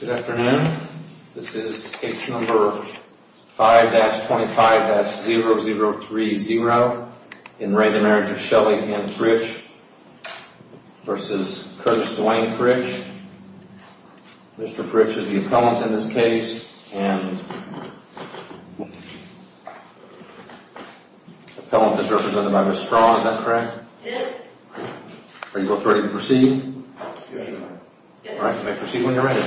Good afternoon, this is case number 5-25-0030, in the reign of marriage of Shelley Ann Fritch versus Curtis Dwayne Fritch. Mr. Fritch is the appellant in this case. And the appellant is represented by Ms. Straugh, is that correct? Yes Are you both ready to proceed? Yes All right, you may proceed when you're ready.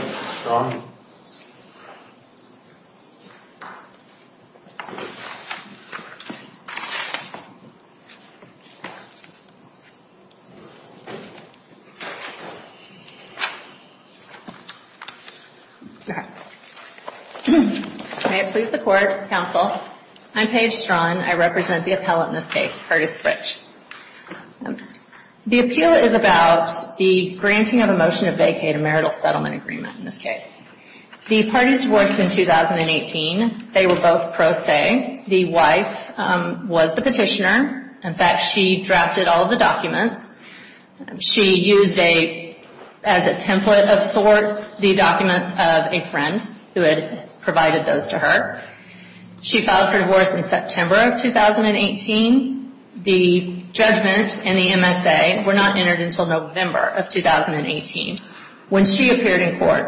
May it please the court, counsel, I'm Paige Straugh and I represent the appellant in this case, Curtis Fritch. The appeal is about the granting of a motion to vacate a marital settlement agreement in this case. The parties divorced in 2018. They were both pro se. The wife was the petitioner. In fact, she drafted all of the documents. She used as a template of sorts the documents of a friend who had provided those to her. She filed for divorce in September of 2018. The judgment and the MSA were not entered until November of 2018 when she appeared in court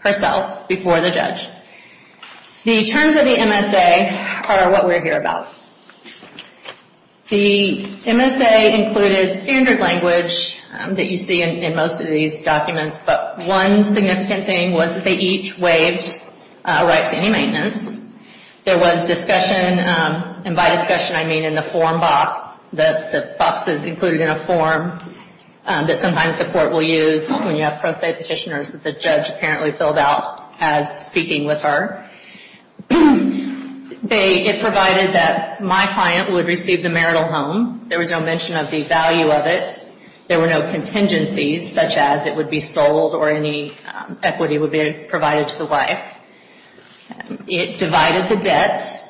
herself before the judge. The terms of the MSA are what we're here about. The MSA included standard language that you see in most of these documents, but one significant thing was that they each waived a right to any maintenance. There was discussion, and by discussion I mean in the form box, the boxes included in a form that sometimes the court will use when you have pro se petitioners that the judge apparently filled out as speaking with her. It provided that my client would receive the marital home. There was no mention of the value of it. There were no contingencies such as it would be sold or any equity would be provided to the wife. It divided the debt.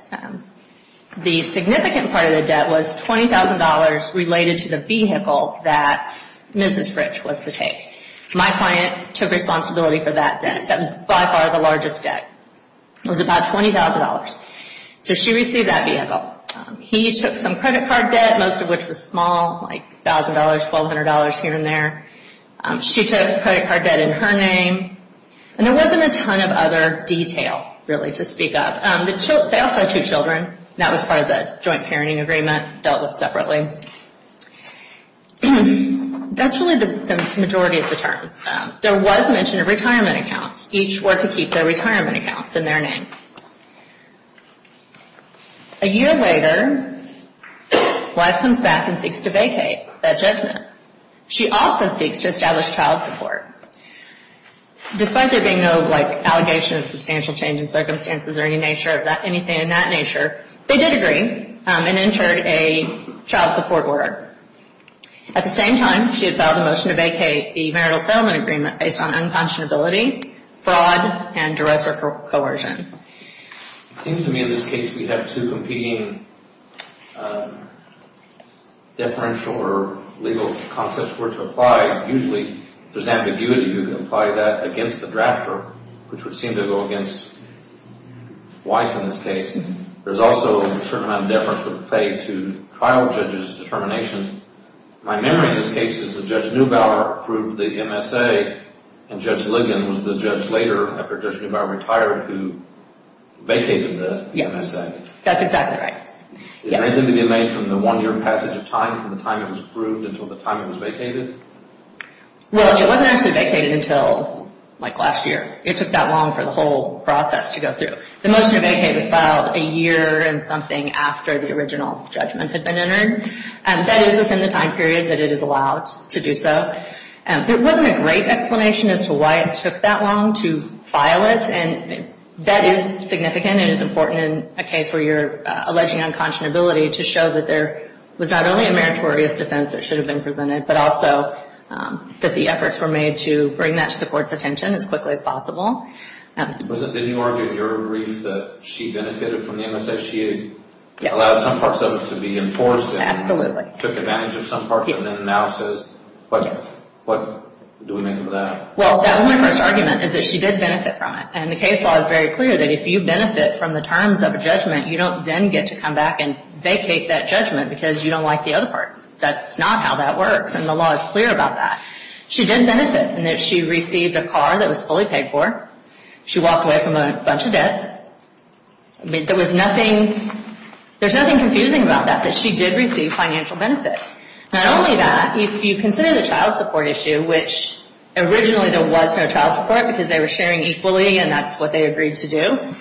The significant part of the debt was $20,000 related to the vehicle that Mrs. Fritch was to take. My client took responsibility for that debt. That was by far the largest debt. It was about $20,000. She received that vehicle. He took some credit card debt, most of which was small, like $1,000, $1,200 here and there. She took credit card debt in her name. There wasn't a ton of other detail really to speak of. They also had two children. That was part of the joint parenting agreement dealt with separately. That's really the majority of the terms. There was mention of retirement accounts. Each were to keep their retirement accounts in their name. A year later, wife comes back and seeks to vacate that judgment. She also seeks to establish child support. Despite there being no allegation of substantial change in circumstances or anything of that nature, they did agree and entered a child support order. At the same time, she had filed a motion to vacate the marital settlement agreement based on unconscionability, fraud, and derisive coercion. It seems to me in this case we have two competing deferential or legal concepts for it to apply. Usually, if there's ambiguity, you can apply that against the drafter, which would seem to go against wife in this case. There's also a certain amount of deference that would pay to trial judges' determinations. My memory in this case is that Judge Neubauer approved the MSA, and Judge Ligon was the judge later, after Judge Neubauer retired, who vacated the MSA. Yes, that's exactly right. Is there anything to be made from the one-year passage of time from the time it was approved until the time it was vacated? Well, it wasn't actually vacated until like last year. It took that long for the whole process to go through. The motion to vacate was filed a year and something after the original judgment had been entered. That is within the time period that it is allowed to do so. There wasn't a great explanation as to why it took that long to file it, and that is significant. It is important in a case where you're alleging unconscionability to show that there was not only a meritorious defense that should have been presented, but also that the efforts were made to bring that to the Court's attention as quickly as possible. Didn't you argue in your brief that she benefited from the MSA? Yes. She allowed some parts of it to be enforced and took advantage of some parts of it in analysis? What do we make of that? Well, that was my first argument, is that she did benefit from it, and the case law is very clear that if you benefit from the terms of a judgment, you don't then get to come back and vacate that judgment because you don't like the other parts. That's not how that works, and the law is clear about that. She did benefit in that she received a car that was fully paid for. She walked away from a bunch of debt. There was nothing confusing about that, that she did receive financial benefit. Not only that, if you consider the child support issue, which originally there was no child support because they were sharing equally, and that's what they agreed to do,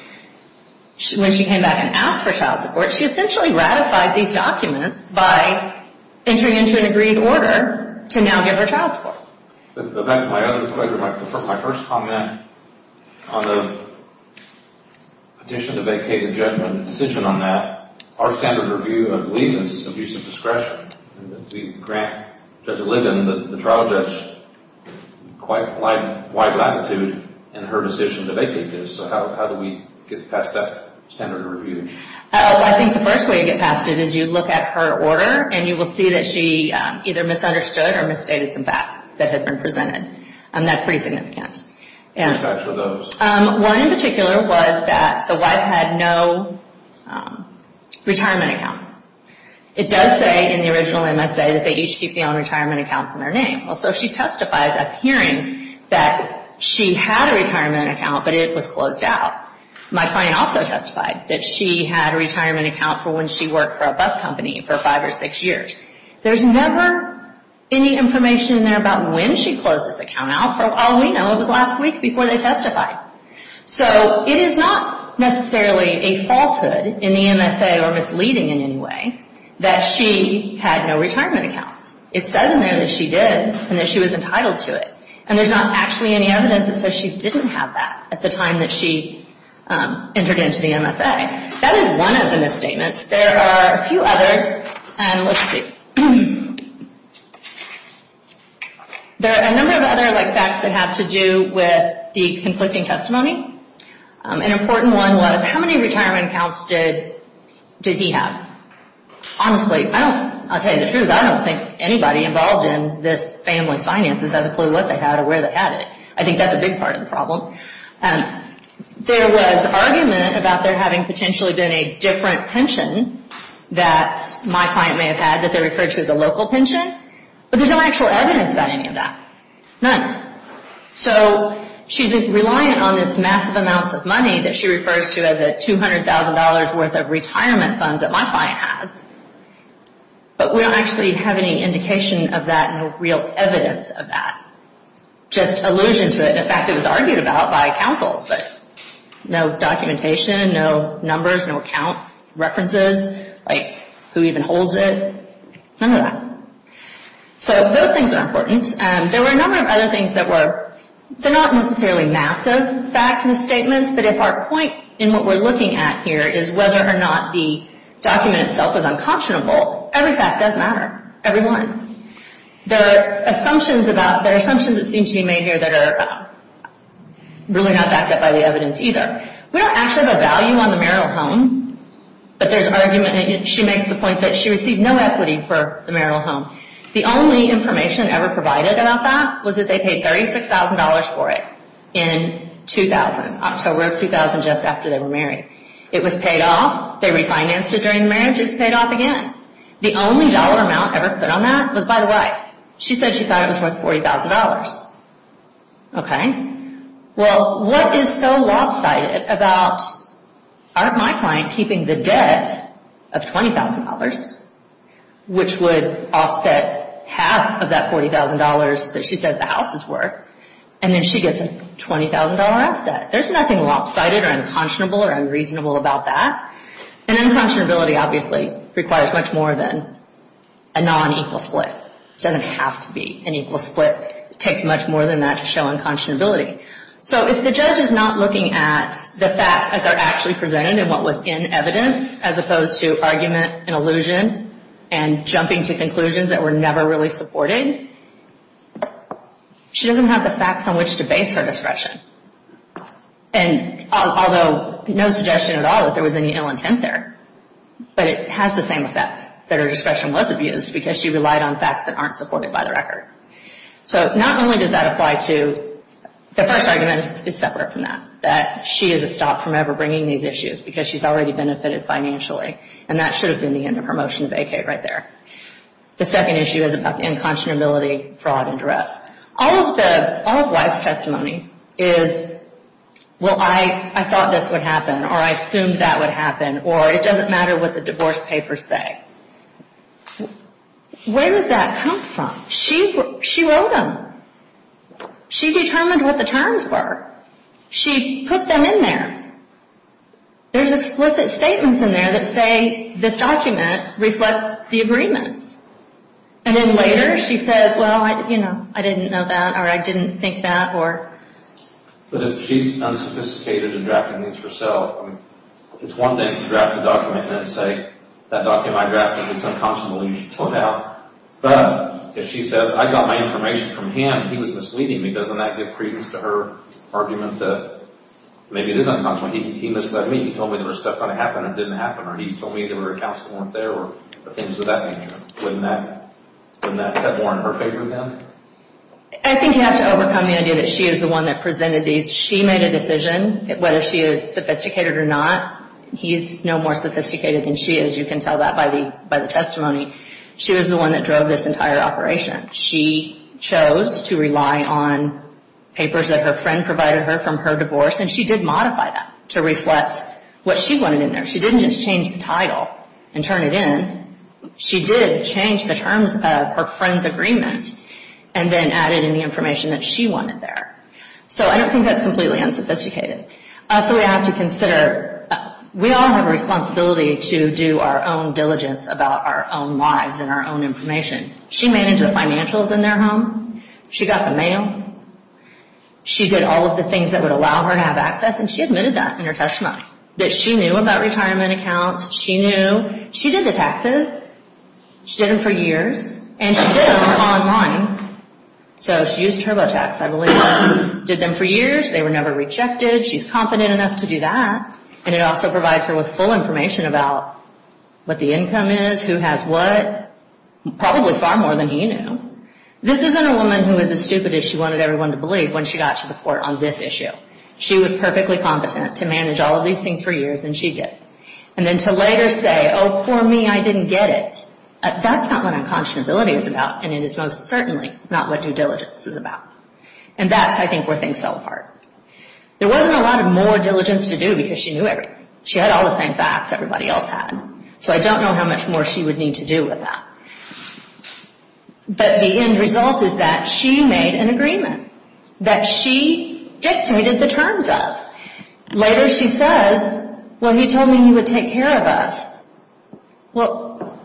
when she came back and asked for child support, she essentially ratified these documents by entering into an agreed order to now give her child support. My other question, my first comment on the petition to vacate the judgment, the decision on that, our standard review of Ligon is abuse of discretion. We grant Judge Ligon, the trial judge, quite wide latitude in her decision to vacate this, so how do we get past that standard review? I think the first way to get past it is you look at her order, and you will see that she either misunderstood or misstated some facts that had been presented. That's pretty significant. What facts were those? One in particular was that the wife had no retirement account. It does say in the original MSA that they each keep their own retirement accounts in their name. So she testifies at the hearing that she had a retirement account, but it was closed out. My client also testified that she had a retirement account for when she worked for a bus company for five or six years. There's never any information in there about when she closed this account out. All we know it was last week before they testified. So it is not necessarily a falsehood in the MSA or misleading in any way that she had no retirement accounts. It says in there that she did and that she was entitled to it, and there's not actually any evidence that says she didn't have that at the time that she entered into the MSA. That is one of the misstatements. There are a few others, and let's see. There are a number of other facts that have to do with the conflicting testimony. An important one was how many retirement accounts did he have? Honestly, I'll tell you the truth. I don't think anybody involved in this family's finances has a clue what they had or where they had it. I think that's a big part of the problem. There was argument about there having potentially been a different pension that my client may have had that they referred to as a local pension, but there's no actual evidence about any of that. None. So she's reliant on this massive amounts of money that she refers to as a $200,000 worth of retirement funds that my client has, but we don't actually have any indication of that, no real evidence of that, just allusion to it. In fact, it was argued about by counsels, but no documentation, no numbers, no account references, like who even holds it. None of that. So those things are important. There were a number of other things that were not necessarily massive fact statements, but if our point in what we're looking at here is whether or not the document itself is unconscionable, every fact does matter, every one. There are assumptions that seem to be made here that are really not backed up by the evidence either. We don't actually have a value on the marital home, but there's argument, and she makes the point that she received no equity for the marital home. The only information ever provided about that was that they paid $36,000 for it in 2000, October of 2000, just after they were married. It was paid off, they refinanced it during the marriage, it was paid off again. The only dollar amount ever put on that was by the wife. She said she thought it was worth $40,000. Well, what is so lopsided about my client keeping the debt of $20,000, which would offset half of that $40,000 that she says the house is worth, and then she gets a $20,000 offset? There's nothing lopsided or unconscionable or unreasonable about that. And unconscionability obviously requires much more than a non-equal split. It doesn't have to be an equal split. It takes much more than that to show unconscionability. So if the judge is not looking at the facts as they're actually presented and what was in evidence, as opposed to argument and allusion and jumping to conclusions that were never really supported, she doesn't have the facts on which to base her discretion. And although no suggestion at all that there was any ill intent there, but it has the same effect that her discretion was abused because she relied on facts that aren't supported by the record. So not only does that apply to—the first argument is separate from that, that she is a stop from ever bringing these issues because she's already benefited financially, and that should have been the end of her motion to vacate right there. The second issue is about the unconscionability, fraud, and duress. All of the—all of the wife's testimony is, well, I thought this would happen, or I assumed that would happen, or it doesn't matter what the divorce papers say. Where does that come from? She wrote them. She determined what the terms were. She put them in there. There's explicit statements in there that say this document reflects the agreements. And then later she says, well, you know, I didn't know that, or I didn't think that, or— But if she's unsophisticated in drafting these herself, I mean, it's one thing to draft a document and then say, that document I drafted, it's unconscionable, you should put it out. But if she says, I got my information from him, he was misleading me, doesn't that give credence to her argument that maybe it is unconscionable? He misled me. He told me there was stuff going to happen that didn't happen, or he told me there were accounts that weren't there or things of that nature. Wouldn't that—wouldn't that have more in her favor then? I think you have to overcome the idea that she is the one that presented these. She made a decision whether she is sophisticated or not. He's no more sophisticated than she is. You can tell that by the testimony. She was the one that drove this entire operation. She chose to rely on papers that her friend provided her from her divorce, and she did modify that to reflect what she wanted in there. She didn't just change the title and turn it in. She did change the terms of her friend's agreement and then added in the information that she wanted there. So I don't think that's completely unsophisticated. So we have to consider—we all have a responsibility to do our own diligence about our own lives and our own information. She managed the financials in their home. She got the mail. She did all of the things that would allow her to have access, and she admitted that in her testimony. That she knew about retirement accounts. She knew—she did the taxes. She did them for years, and she did them online. So she used TurboTax, I believe. Did them for years. They were never rejected. She's confident enough to do that, and it also provides her with full information about what the income is, who has what, probably far more than he knew. This isn't a woman who is as stupid as she wanted everyone to believe when she got to the court on this issue. She was perfectly competent to manage all of these things for years, and she did. And then to later say, oh, poor me, I didn't get it. That's not what unconscionability is about, and it is most certainly not what due diligence is about. And that's, I think, where things fell apart. There wasn't a lot of more diligence to do because she knew everything. She had all the same facts everybody else had. So I don't know how much more she would need to do with that. But the end result is that she made an agreement that she dictated the terms of. Later she says, well, he told me he would take care of us. Well,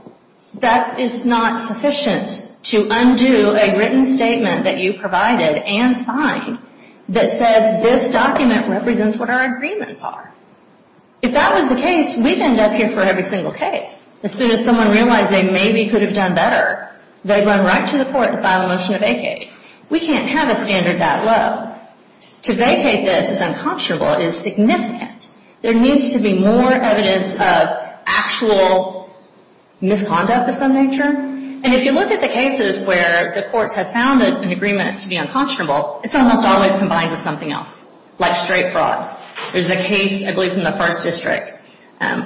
that is not sufficient to undo a written statement that you provided and signed that says this document represents what our agreements are. If that was the case, we'd end up here for every single case. As soon as someone realized they maybe could have done better, they'd run right to the court and file a motion to vacate. We can't have a standard that low. To vacate this as unconscionable is significant. There needs to be more evidence of actual misconduct of some nature. And if you look at the cases where the courts have found an agreement to be unconscionable, it's almost always combined with something else, like straight fraud. There's a case, I believe, in the first district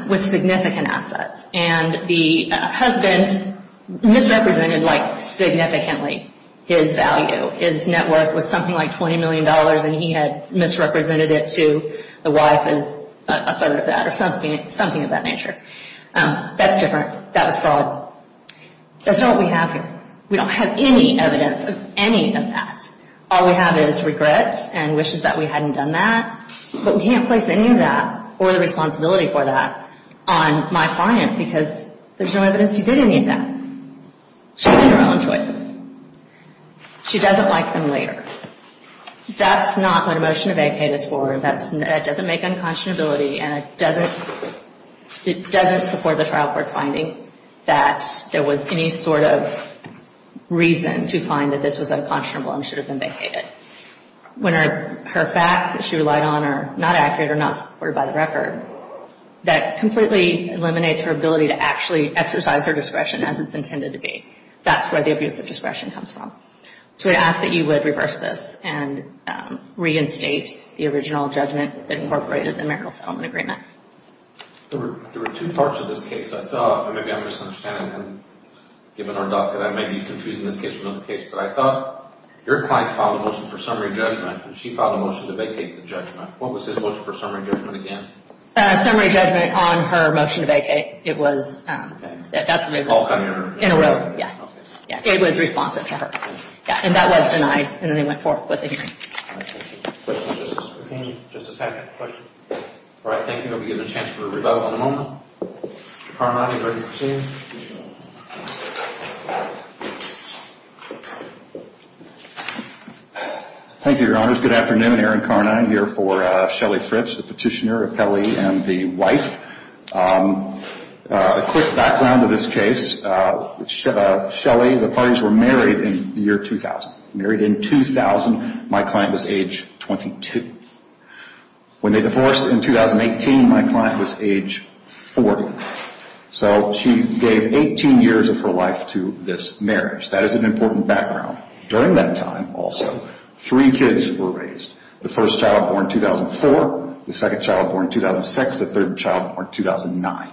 with significant assets, and the husband misrepresented significantly his value. His net worth was something like $20 million, and he had misrepresented it to the wife as a third of that or something of that nature. That's different. That was fraud. That's not what we have here. We don't have any evidence of any of that. All we have is regret and wishes that we hadn't done that, but we can't place any of that or the responsibility for that on my client because there's no evidence he did any of that. She made her own choices. She doesn't like them later. That's not what a motion to vacate is for. That doesn't make unconscionability, and it doesn't support the trial court's finding that there was any sort of reason to find that this was unconscionable and should have been vacated. When her facts that she relied on are not accurate or not supported by the record, that completely eliminates her ability to actually exercise her discretion as it's intended to be. That's where the abuse of discretion comes from. So we ask that you would reverse this and reinstate the original judgment that incorporated the marital settlement agreement. There were two parts of this case I thought, and maybe I'm misunderstanding and giving her a doubt that I may be confusing this case from another case, but I thought your client filed a motion for summary judgment, and she filed a motion to vacate the judgment. What was his motion for summary judgment again? Summary judgment on her motion to vacate. In a row, yeah. It was responsive to her. And that was denied, and then they went forth with the hearing. Just a second. All right, thank you. We'll be given a chance for a rebuttal in a moment. Mr. Carnine, are you ready to proceed? Thank you, Your Honors. Good afternoon. I'm Aaron Carnine, here for Shelly Fritz, the petitioner, appellee, and the wife. A quick background of this case. Shelly, the parties were married in the year 2000. Married in 2000. My client was age 22. When they divorced in 2018, my client was age 40. So she gave 18 years of her life to this marriage. That is an important background. During that time, also, three kids were raised. The first child born in 2004. The second child born in 2006. The third child born in 2009.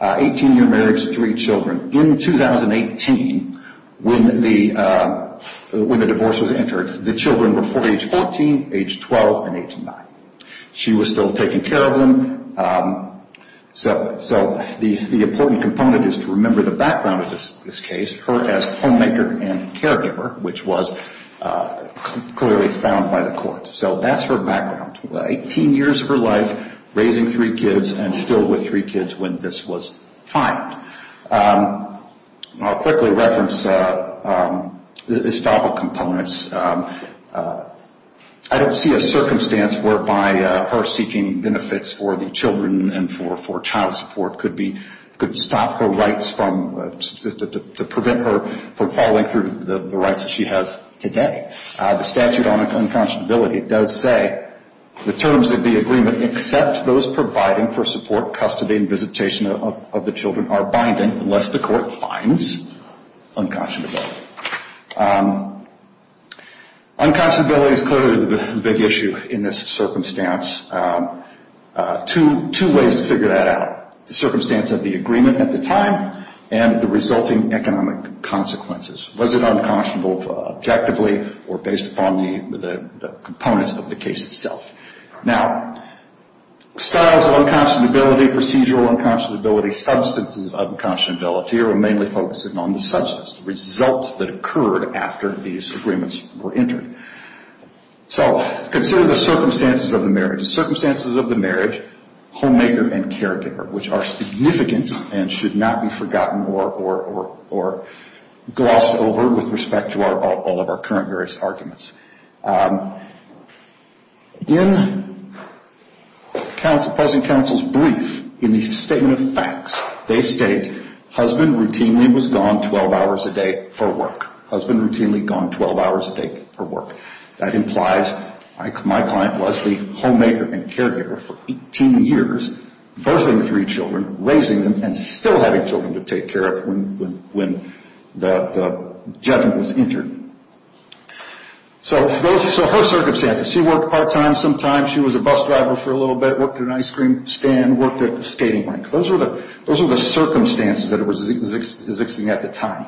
18-year marriage, three children. In 2018, when the divorce was entered, the children were age 14, age 12, and age 9. She was still taking care of them. So the important component is to remember the background of this case, her as homemaker and caregiver, which was clearly found by the court. So that's her background. 18 years of her life, raising three kids, and still with three kids when this was fined. I'll quickly reference the estoppel components. I don't see a circumstance whereby her seeking benefits for the children and for child support could prevent her from following through with the rights that she has today. The statute on unconscionability does say, the terms of the agreement except those providing for support, custody, and visitation of the children are binding unless the court finds unconscionability. Unconscionability is clearly the big issue in this circumstance. Two ways to figure that out. The circumstance of the agreement at the time and the resulting economic consequences. Was it unconscionable objectively or based upon the components of the case itself? Now, styles of unconscionability, procedural unconscionability, substances of unconscionability are mainly focusing on the substance, the result that occurred after these agreements were entered. So, consider the circumstances of the marriage. Circumstances of the marriage, homemaker and caregiver, which are significant and should not be forgotten or glossed over with respect to all of our current various arguments. In President Counsel's brief, in the statement of facts, they state, husband routinely was gone 12 hours a day for work. Husband routinely gone 12 hours a day for work. That implies my client Leslie, homemaker and caregiver for 18 years, birthing three children, raising them, and still having children to take care of when the gentleman was injured. So, her circumstances. She worked part-time sometimes. She was a bus driver for a little bit. Worked at an ice cream stand. Worked at a skating rink. Those are the circumstances that were existing at the time.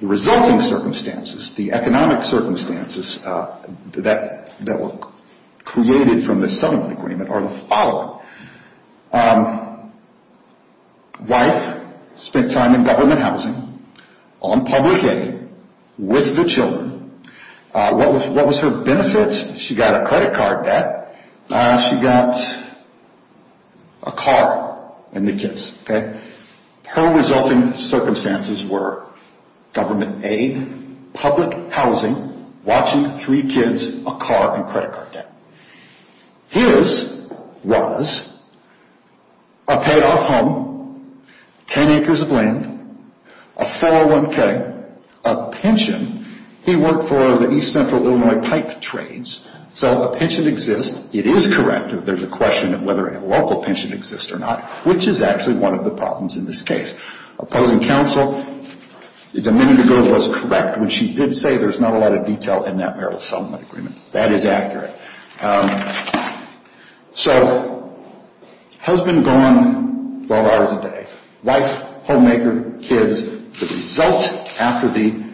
The resulting circumstances, the economic circumstances that were created from the settlement agreement are the following. Wife spent time in government housing, on public aid, with the children. What was her benefit? She got a credit card debt. She got a car and the kids. Her resulting circumstances were government aid, public housing, watching three kids, a car, and credit card debt. His was a paid-off home, 10 acres of land, a 401k, a pension. He worked for the East Central Illinois Pipe Trades. So, a pension exists. It is correct if there's a question of whether a local pension exists or not, which is actually one of the problems in this case. Opposing counsel, the minute ago, was correct, which he did say there's not a lot of detail in that marital settlement agreement. That is accurate. So, husband gone 12 hours a day. Wife, homemaker, kids. The result after the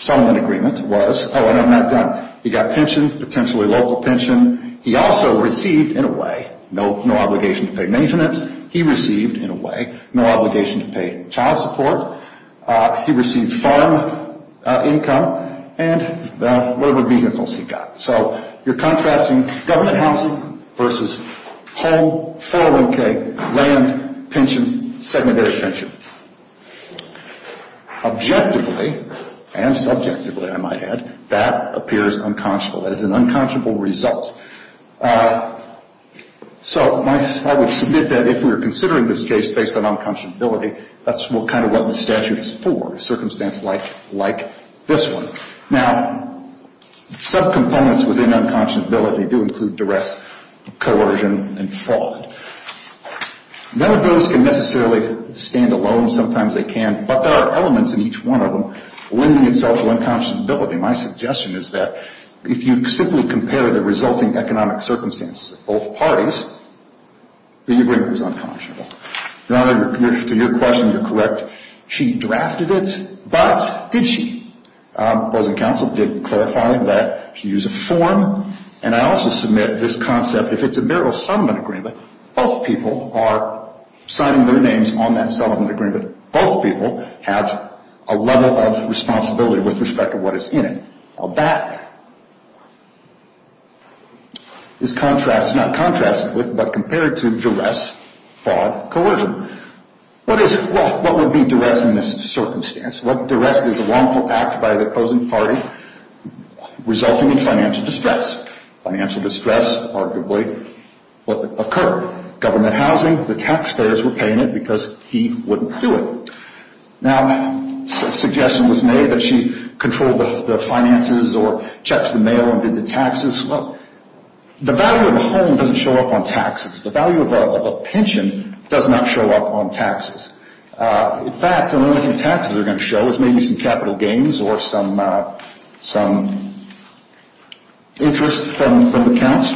settlement agreement was, oh, and I'm not done. He got pension, potentially local pension. He also received, in a way, no obligation to pay maintenance. He received, in a way, no obligation to pay child support. He received farm income and whatever vehicles he got. So, you're contrasting government housing versus home, 401k, land, pension, secondary pension. Objectively, and subjectively, I might add, that appears unconscionable. That is an unconscionable result. So, I would submit that if we were considering this case based on unconscionability, that's kind of what the statute is for, a circumstance like this one. Now, subcomponents within unconscionability do include duress, coercion, and fraud. None of those can necessarily stand alone. Sometimes they can. But there are elements in each one of them lending itself to unconscionability. My suggestion is that if you simply compare the resulting economic circumstances of both parties, the agreement is unconscionable. Your Honor, to your question, you're correct. She drafted it, but did she? The opposing counsel did clarify that she used a form. And I also submit this concept, if it's a marital settlement agreement, both people are signing their names on that settlement agreement. Both people have a level of responsibility with respect to what is in it. Now, that is contrasted, not contrasted with, but compared to duress, fraud, coercion. What is it? Well, what would be duress in this circumstance? Duress is a wrongful act by the opposing party resulting in financial distress. Financial distress arguably occurred. The taxpayers were paying it because he wouldn't do it. Now, a suggestion was made that she controlled the finances or checks the mail and did the taxes. Well, the value of a home doesn't show up on taxes. The value of a pension does not show up on taxes. In fact, the only thing taxes are going to show is maybe some capital gains or some interest from accounts.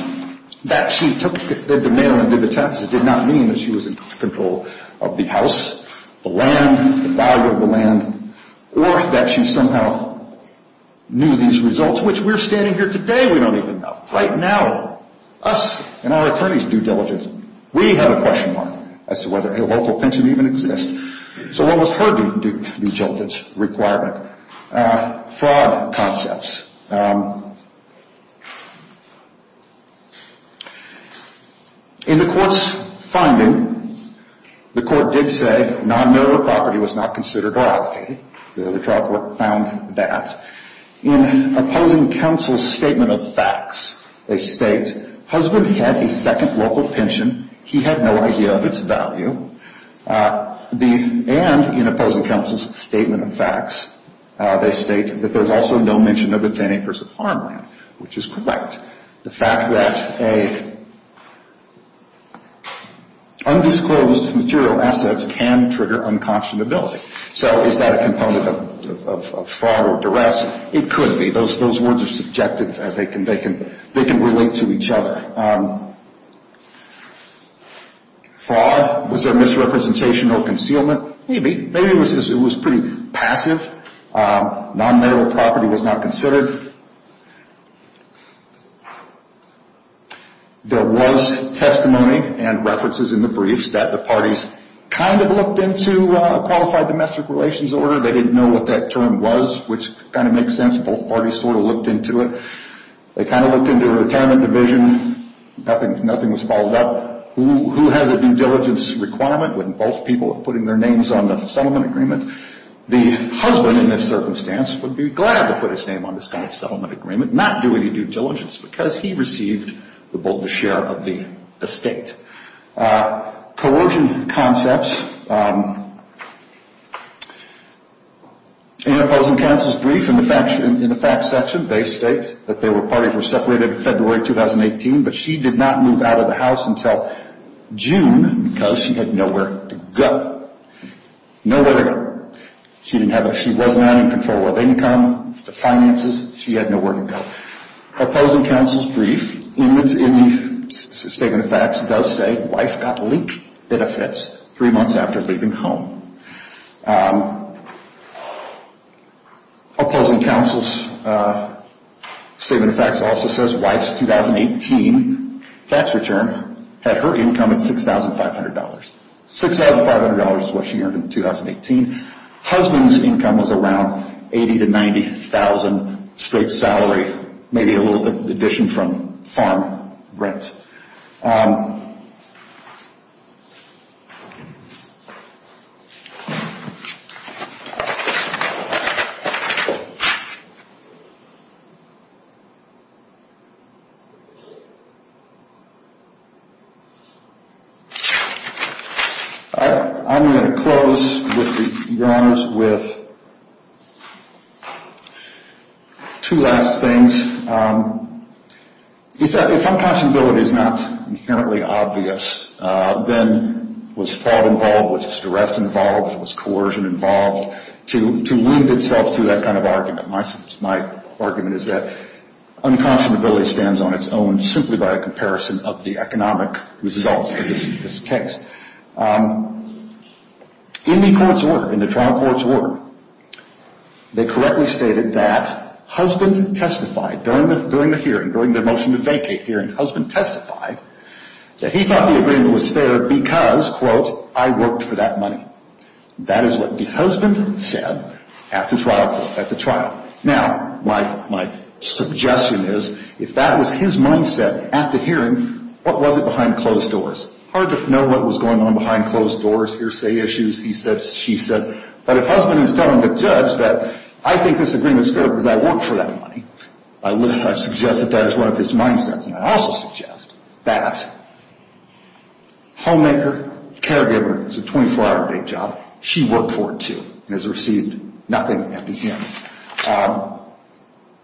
That she took the mail and did the taxes did not mean that she was in control of the house, the land, the value of the land, or that she somehow knew these results, which we're standing here today we don't even know. Right now, us and our attorneys do diligence. We have a question mark as to whether a local pension even exists. So what was her due diligence requirement? Fraud concepts. In the court's funding, the court did say non-military property was not considered or allocated. The trial court found that. In opposing counsel's statement of facts, they state husband had a second local pension. He had no idea of its value. And in opposing counsel's statement of facts, they state that there's also no mention of its acres of farmland, which is correct. The fact that undisclosed material assets can trigger unconscionability. So is that a component of fraud or duress? It could be. Those words are subjective. They can relate to each other. Fraud. Was there misrepresentation or concealment? Maybe. Maybe it was pretty passive. Non-military property was not considered. There was testimony and references in the briefs that the parties kind of looked into a qualified domestic relations order. They didn't know what that term was, which kind of makes sense. Both parties sort of looked into it. They kind of looked into a retirement division. Nothing was followed up. Who has a due diligence requirement when both people are putting their names on the settlement agreement? The husband, in this circumstance, would be glad to put his name on this kind of settlement agreement, not do any due diligence, because he received the share of the estate. Coercion concepts. In opposing counsel's brief in the facts section, they state that the parties were separated in February 2018, but she did not move out of the house until June because she had nowhere to go. Nowhere to go. She was not in control of income, finances. She had nowhere to go. Opposing counsel's brief in the statement of facts does say, wife got weak benefits three months after leaving home. Opposing counsel's statement of facts also says, wife's 2018 tax return had her income at $6,500. $6,500 is what she earned in 2018. Husband's income was around $80,000 to $90,000 straight salary, maybe a little addition from farm rent. I'm going to close, Your Honors, with two last things. If unconscionability is not inherently obvious, then was fraud involved, was duress involved, was coercion involved, to wind itself to that kind of argument. My argument is that unconscionability stands on its own, simply by a comparison of the economic results of this case. In the court's order, in the trial court's order, they correctly stated that husband testified during the hearing, during the motion to vacate hearing, husband testified that he thought the agreement was fair because, quote, I worked for that money. That is what the husband said at the trial court, at the trial. Now, my suggestion is, if that was his mindset at the hearing, what was it behind closed doors? Hard to know what was going on behind closed doors, hearsay issues, he said, she said. But if husband is telling the judge that I think this agreement is fair because I worked for that money, I suggest that that is one of his mindsets. And I also suggest that homemaker, caregiver, it's a 24-hour day job, she worked for it, too, and has received nothing at the hearing.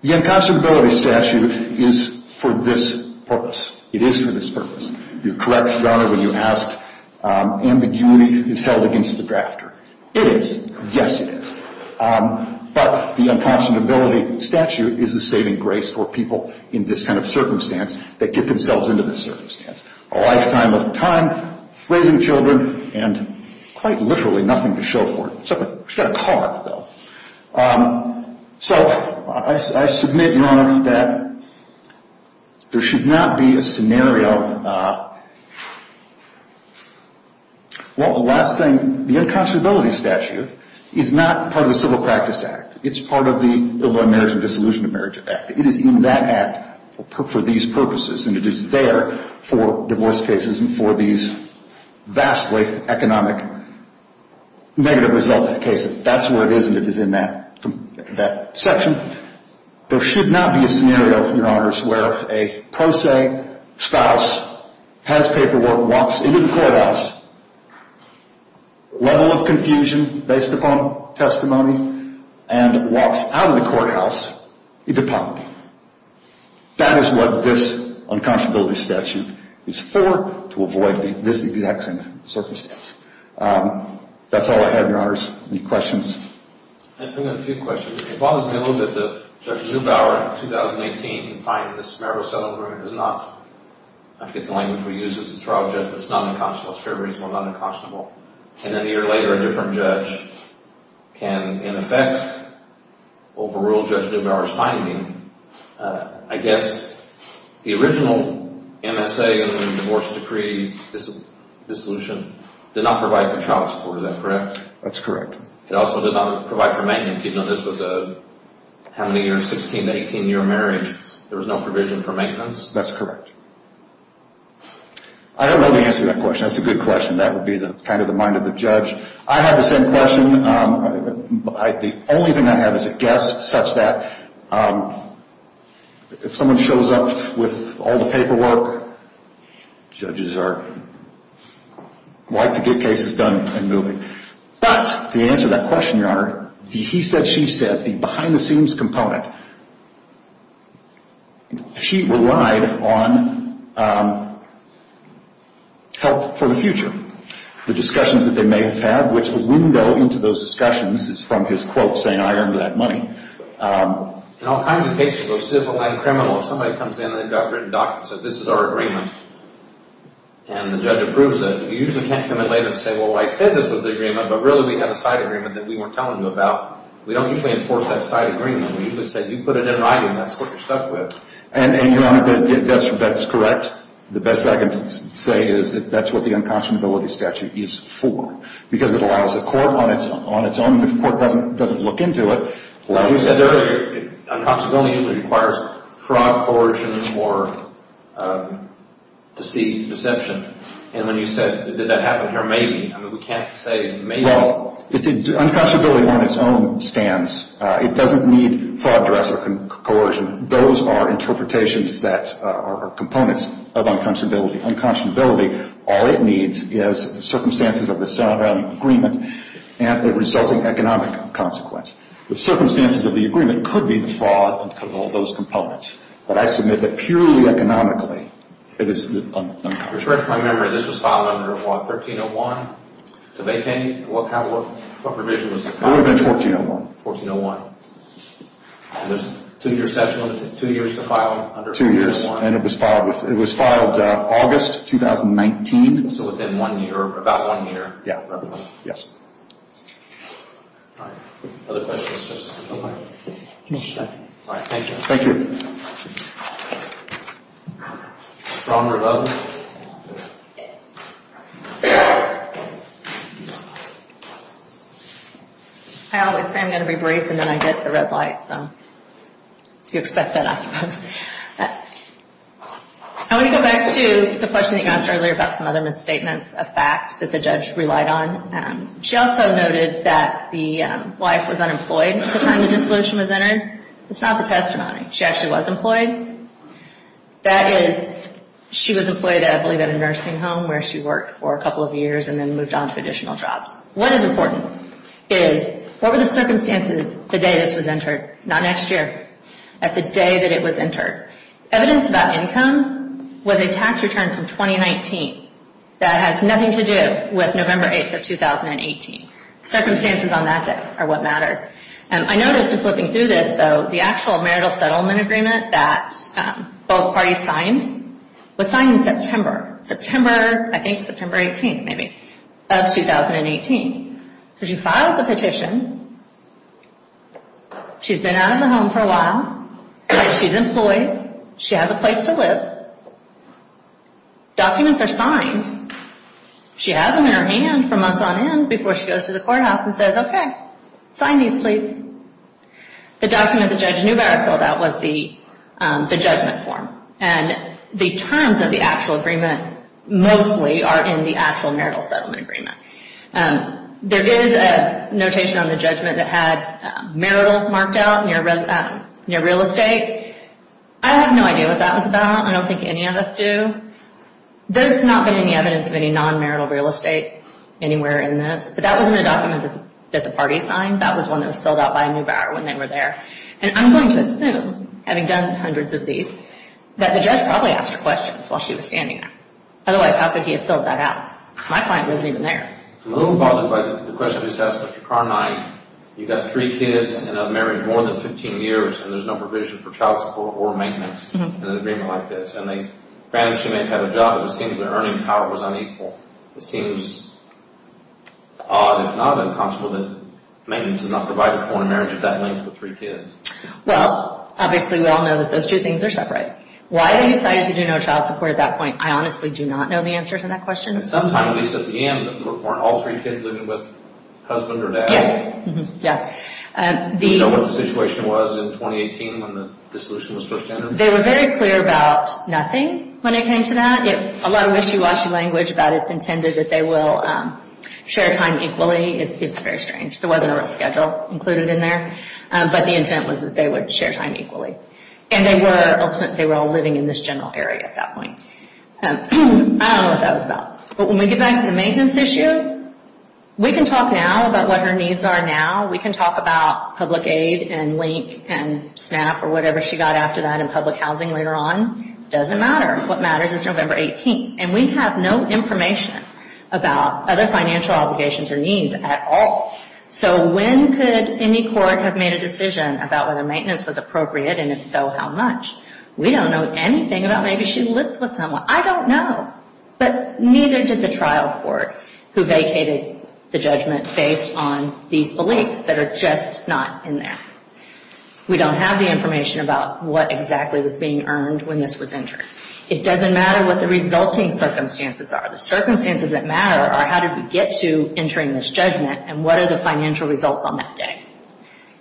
The unconscionability statute is for this purpose. It is for this purpose. You correct, Your Honor, when you ask, ambiguity is held against the drafter. It is. Yes, it is. But the unconscionability statute is a saving grace for people in this kind of circumstance that get themselves into this circumstance. A lifetime of time, raising children, and quite literally nothing to show for it. It's like a car, though. So I submit, Your Honor, that there should not be a scenario. Well, the last thing, the unconscionability statute is not part of the Civil Practice Act. It's part of the Illegal Marriage and Dissolution of Marriage Act. It is in that act for these purposes, and it is there for divorce cases and for these vastly economic negative resultant cases. That's where it is, and it is in that section. There should not be a scenario, Your Honors, where a pro se spouse has paperwork, walks into the courthouse, level of confusion based upon testimony, and walks out of the courthouse into poverty. That is what this unconscionability statute is for, to avoid this exact circumstance. That's all I have, Your Honors. Any questions? I have a few questions. It bothers me a little bit that Judge Neubauer in 2018 can find this marital settlement. I forget the language we use. It's a trial judgment. It's not unconscionable. It's a fair reason why it's not unconscionable. And then a year later, a different judge can, in effect, overrule Judge Neubauer's finding. I guess the original MSA and divorce decree dissolution did not provide for child support. Is that correct? That's correct. It also did not provide for maintenance, even though this was a 16 to 18-year marriage. There was no provision for maintenance? That's correct. I don't know the answer to that question. That's a good question. That would be kind of the mind of the judge. I have the same question. The only thing I have is a guess such that if someone shows up with all the paperwork, judges are likely to get cases done and moving. But the answer to that question, Your Honor, the he said, she said, the behind-the-scenes component, she relied on help for the future. The discussions that they may have had, which the window into those discussions is from his quote saying, I earned that money. In all kinds of cases, civil and criminal, if somebody comes in and the doctor said, this is our agreement, and the judge approves it, you usually can't come in later and say, well, I said this was the agreement, but really we have a side agreement that we weren't telling you about. We don't usually enforce that side agreement. We usually say, you put it in writing. That's what you're stuck with. And, Your Honor, that's correct. The best I can say is that that's what the unconscionability statute is for, because it allows the court on its own. If the court doesn't look into it, well, You said earlier, unconscionability usually requires fraud, coercion, or deceit, deception. And when you said, did that happen here? Maybe. I mean, we can't say maybe. Well, unconscionability on its own stands. It doesn't need fraud, duress, or coercion. Those are interpretations that are components of unconscionability. Unconscionability, all it needs is circumstances of the sound agreement and a resulting economic consequence. The circumstances of the agreement could be the fraud and could involve those components. But I submit that purely economically, it is unconscionable. Your Honor, if I remember, this was filed under what? 1301? What provision was it filed under? It would have been 1401. 1401. And there's two years to file under 1301. Two years. And it was filed August 2019. So within one year, about one year. Yeah. Yes. All right. Other questions? All right. Thank you. Thank you. Stronger vote? Yes. I always say I'm going to be brief and then I get the red light. So you expect that, I suppose. I want to go back to the question you asked earlier about some other misstatements, a fact that the judge relied on. She also noted that the wife was unemployed at the time the dissolution was entered. It's not the testimony. She actually was employed. That is, she was employed, I believe, at a nursing home where she worked for a couple of years and then moved on to additional jobs. What is important is, what were the circumstances the day this was entered? Not next year. At the day that it was entered. Evidence about income was a tax return from 2019 that has nothing to do with November 8th of 2018. Circumstances on that day are what matter. I noticed in flipping through this, though, the actual marital settlement agreement that both parties signed was signed in September. September, I think September 18th, maybe, of 2018. So she files the petition. She's been out of the home for a while. She's employed. She has a place to live. Documents are signed. She has them in her hand for months on end before she goes to the courthouse and says, Okay, sign these, please. The document that Judge Neubauer filled out was the judgment form. And the terms of the actual agreement mostly are in the actual marital settlement agreement. There is a notation on the judgment that had marital marked out near real estate. I have no idea what that was about. I don't think any of us do. There's not been any evidence of any non-marital real estate anywhere in this. But that wasn't a document that the parties signed. That was one that was filled out by Neubauer when they were there. And I'm going to assume, having done hundreds of these, that the judge probably asked her questions while she was standing there. Otherwise, how could he have filled that out? My client wasn't even there. I'm a little bothered by the question you just asked, Mr. Carnine. You've got three kids and have married more than 15 years, and there's no provision for child support or maintenance in an agreement like this. And granted, she may have had a job, but it seems her earning power was unequal. It seems odd, if not unconscionable, that maintenance is not provided for in a marriage of that length with three kids. Well, obviously we all know that those two things are separate. Why they decided to do no child support at that point, I honestly do not know the answer to that question. Sometime, at least at the end, weren't all three kids living with husband or dad? Yeah. Do you know what the situation was in 2018 when the solution was first entered? They were very clear about nothing when it came to that. A lot of wishy-washy language about it's intended that they will share time equally. It's very strange. There wasn't a real schedule included in there, but the intent was that they would share time equally. And they were all living in this general area at that point. I don't know what that was about. But when we get back to the maintenance issue, we can talk now about what her needs are now. We can talk about public aid and LINC and SNAP or whatever she got after that and public housing later on. Doesn't matter. What matters is November 18th. And we have no information about other financial obligations or needs at all. So when could any court have made a decision about whether maintenance was appropriate, and if so, how much? We don't know anything about maybe she lived with someone. I don't know. But neither did the trial court who vacated the judgment based on these beliefs that are just not in there. We don't have the information about what exactly was being earned when this was entered. It doesn't matter what the resulting circumstances are. The circumstances that matter are how did we get to entering this judgment and what are the financial results on that day.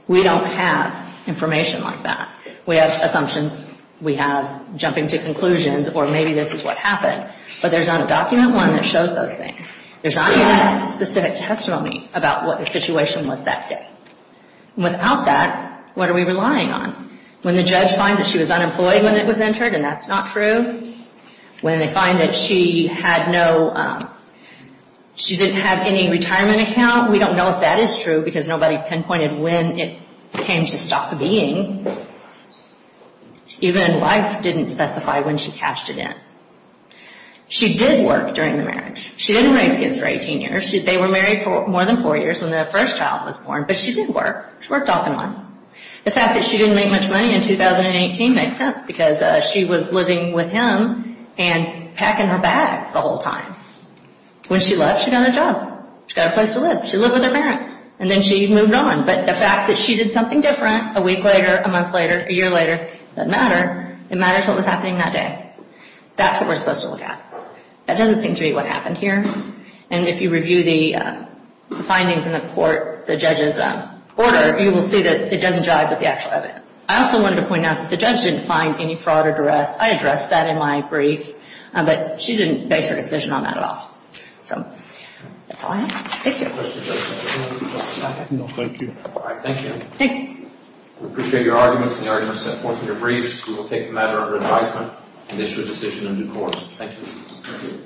We don't have information like that. We have assumptions. We have jumping to conclusions or maybe this is what happened. But there's not a document one that shows those things. There's not even a specific testimony about what the situation was that day. Without that, what are we relying on? When the judge finds that she was unemployed when it was entered and that's not true, when they find that she had no, she didn't have any retirement account, we don't know if that is true because nobody pinpointed when it came to stop being. Even wife didn't specify when she cashed it in. She did work during the marriage. She didn't raise kids for 18 years. They were married for more than four years when the first child was born, but she did work. She worked off and on. The fact that she didn't make much money in 2018 makes sense because she was living with him and packing her bags the whole time. When she left, she got a job. She got a place to live. She lived with her parents. And then she moved on. But the fact that she did something different a week later, a month later, a year later, doesn't matter. It matters what was happening that day. That's what we're supposed to look at. That doesn't seem to be what happened here. And if you review the findings in the court, the judge's order, you will see that it doesn't jive with the actual evidence. I also wanted to point out that the judge didn't find any fraud or duress. I addressed that in my brief. But she didn't base her decision on that at all. So that's all I have. Thank you. Thank you. Thanks. We appreciate your arguments and the arguments set forth in your briefs. We will take the matter under advisement and issue a decision in due course. Thank you. Thank you.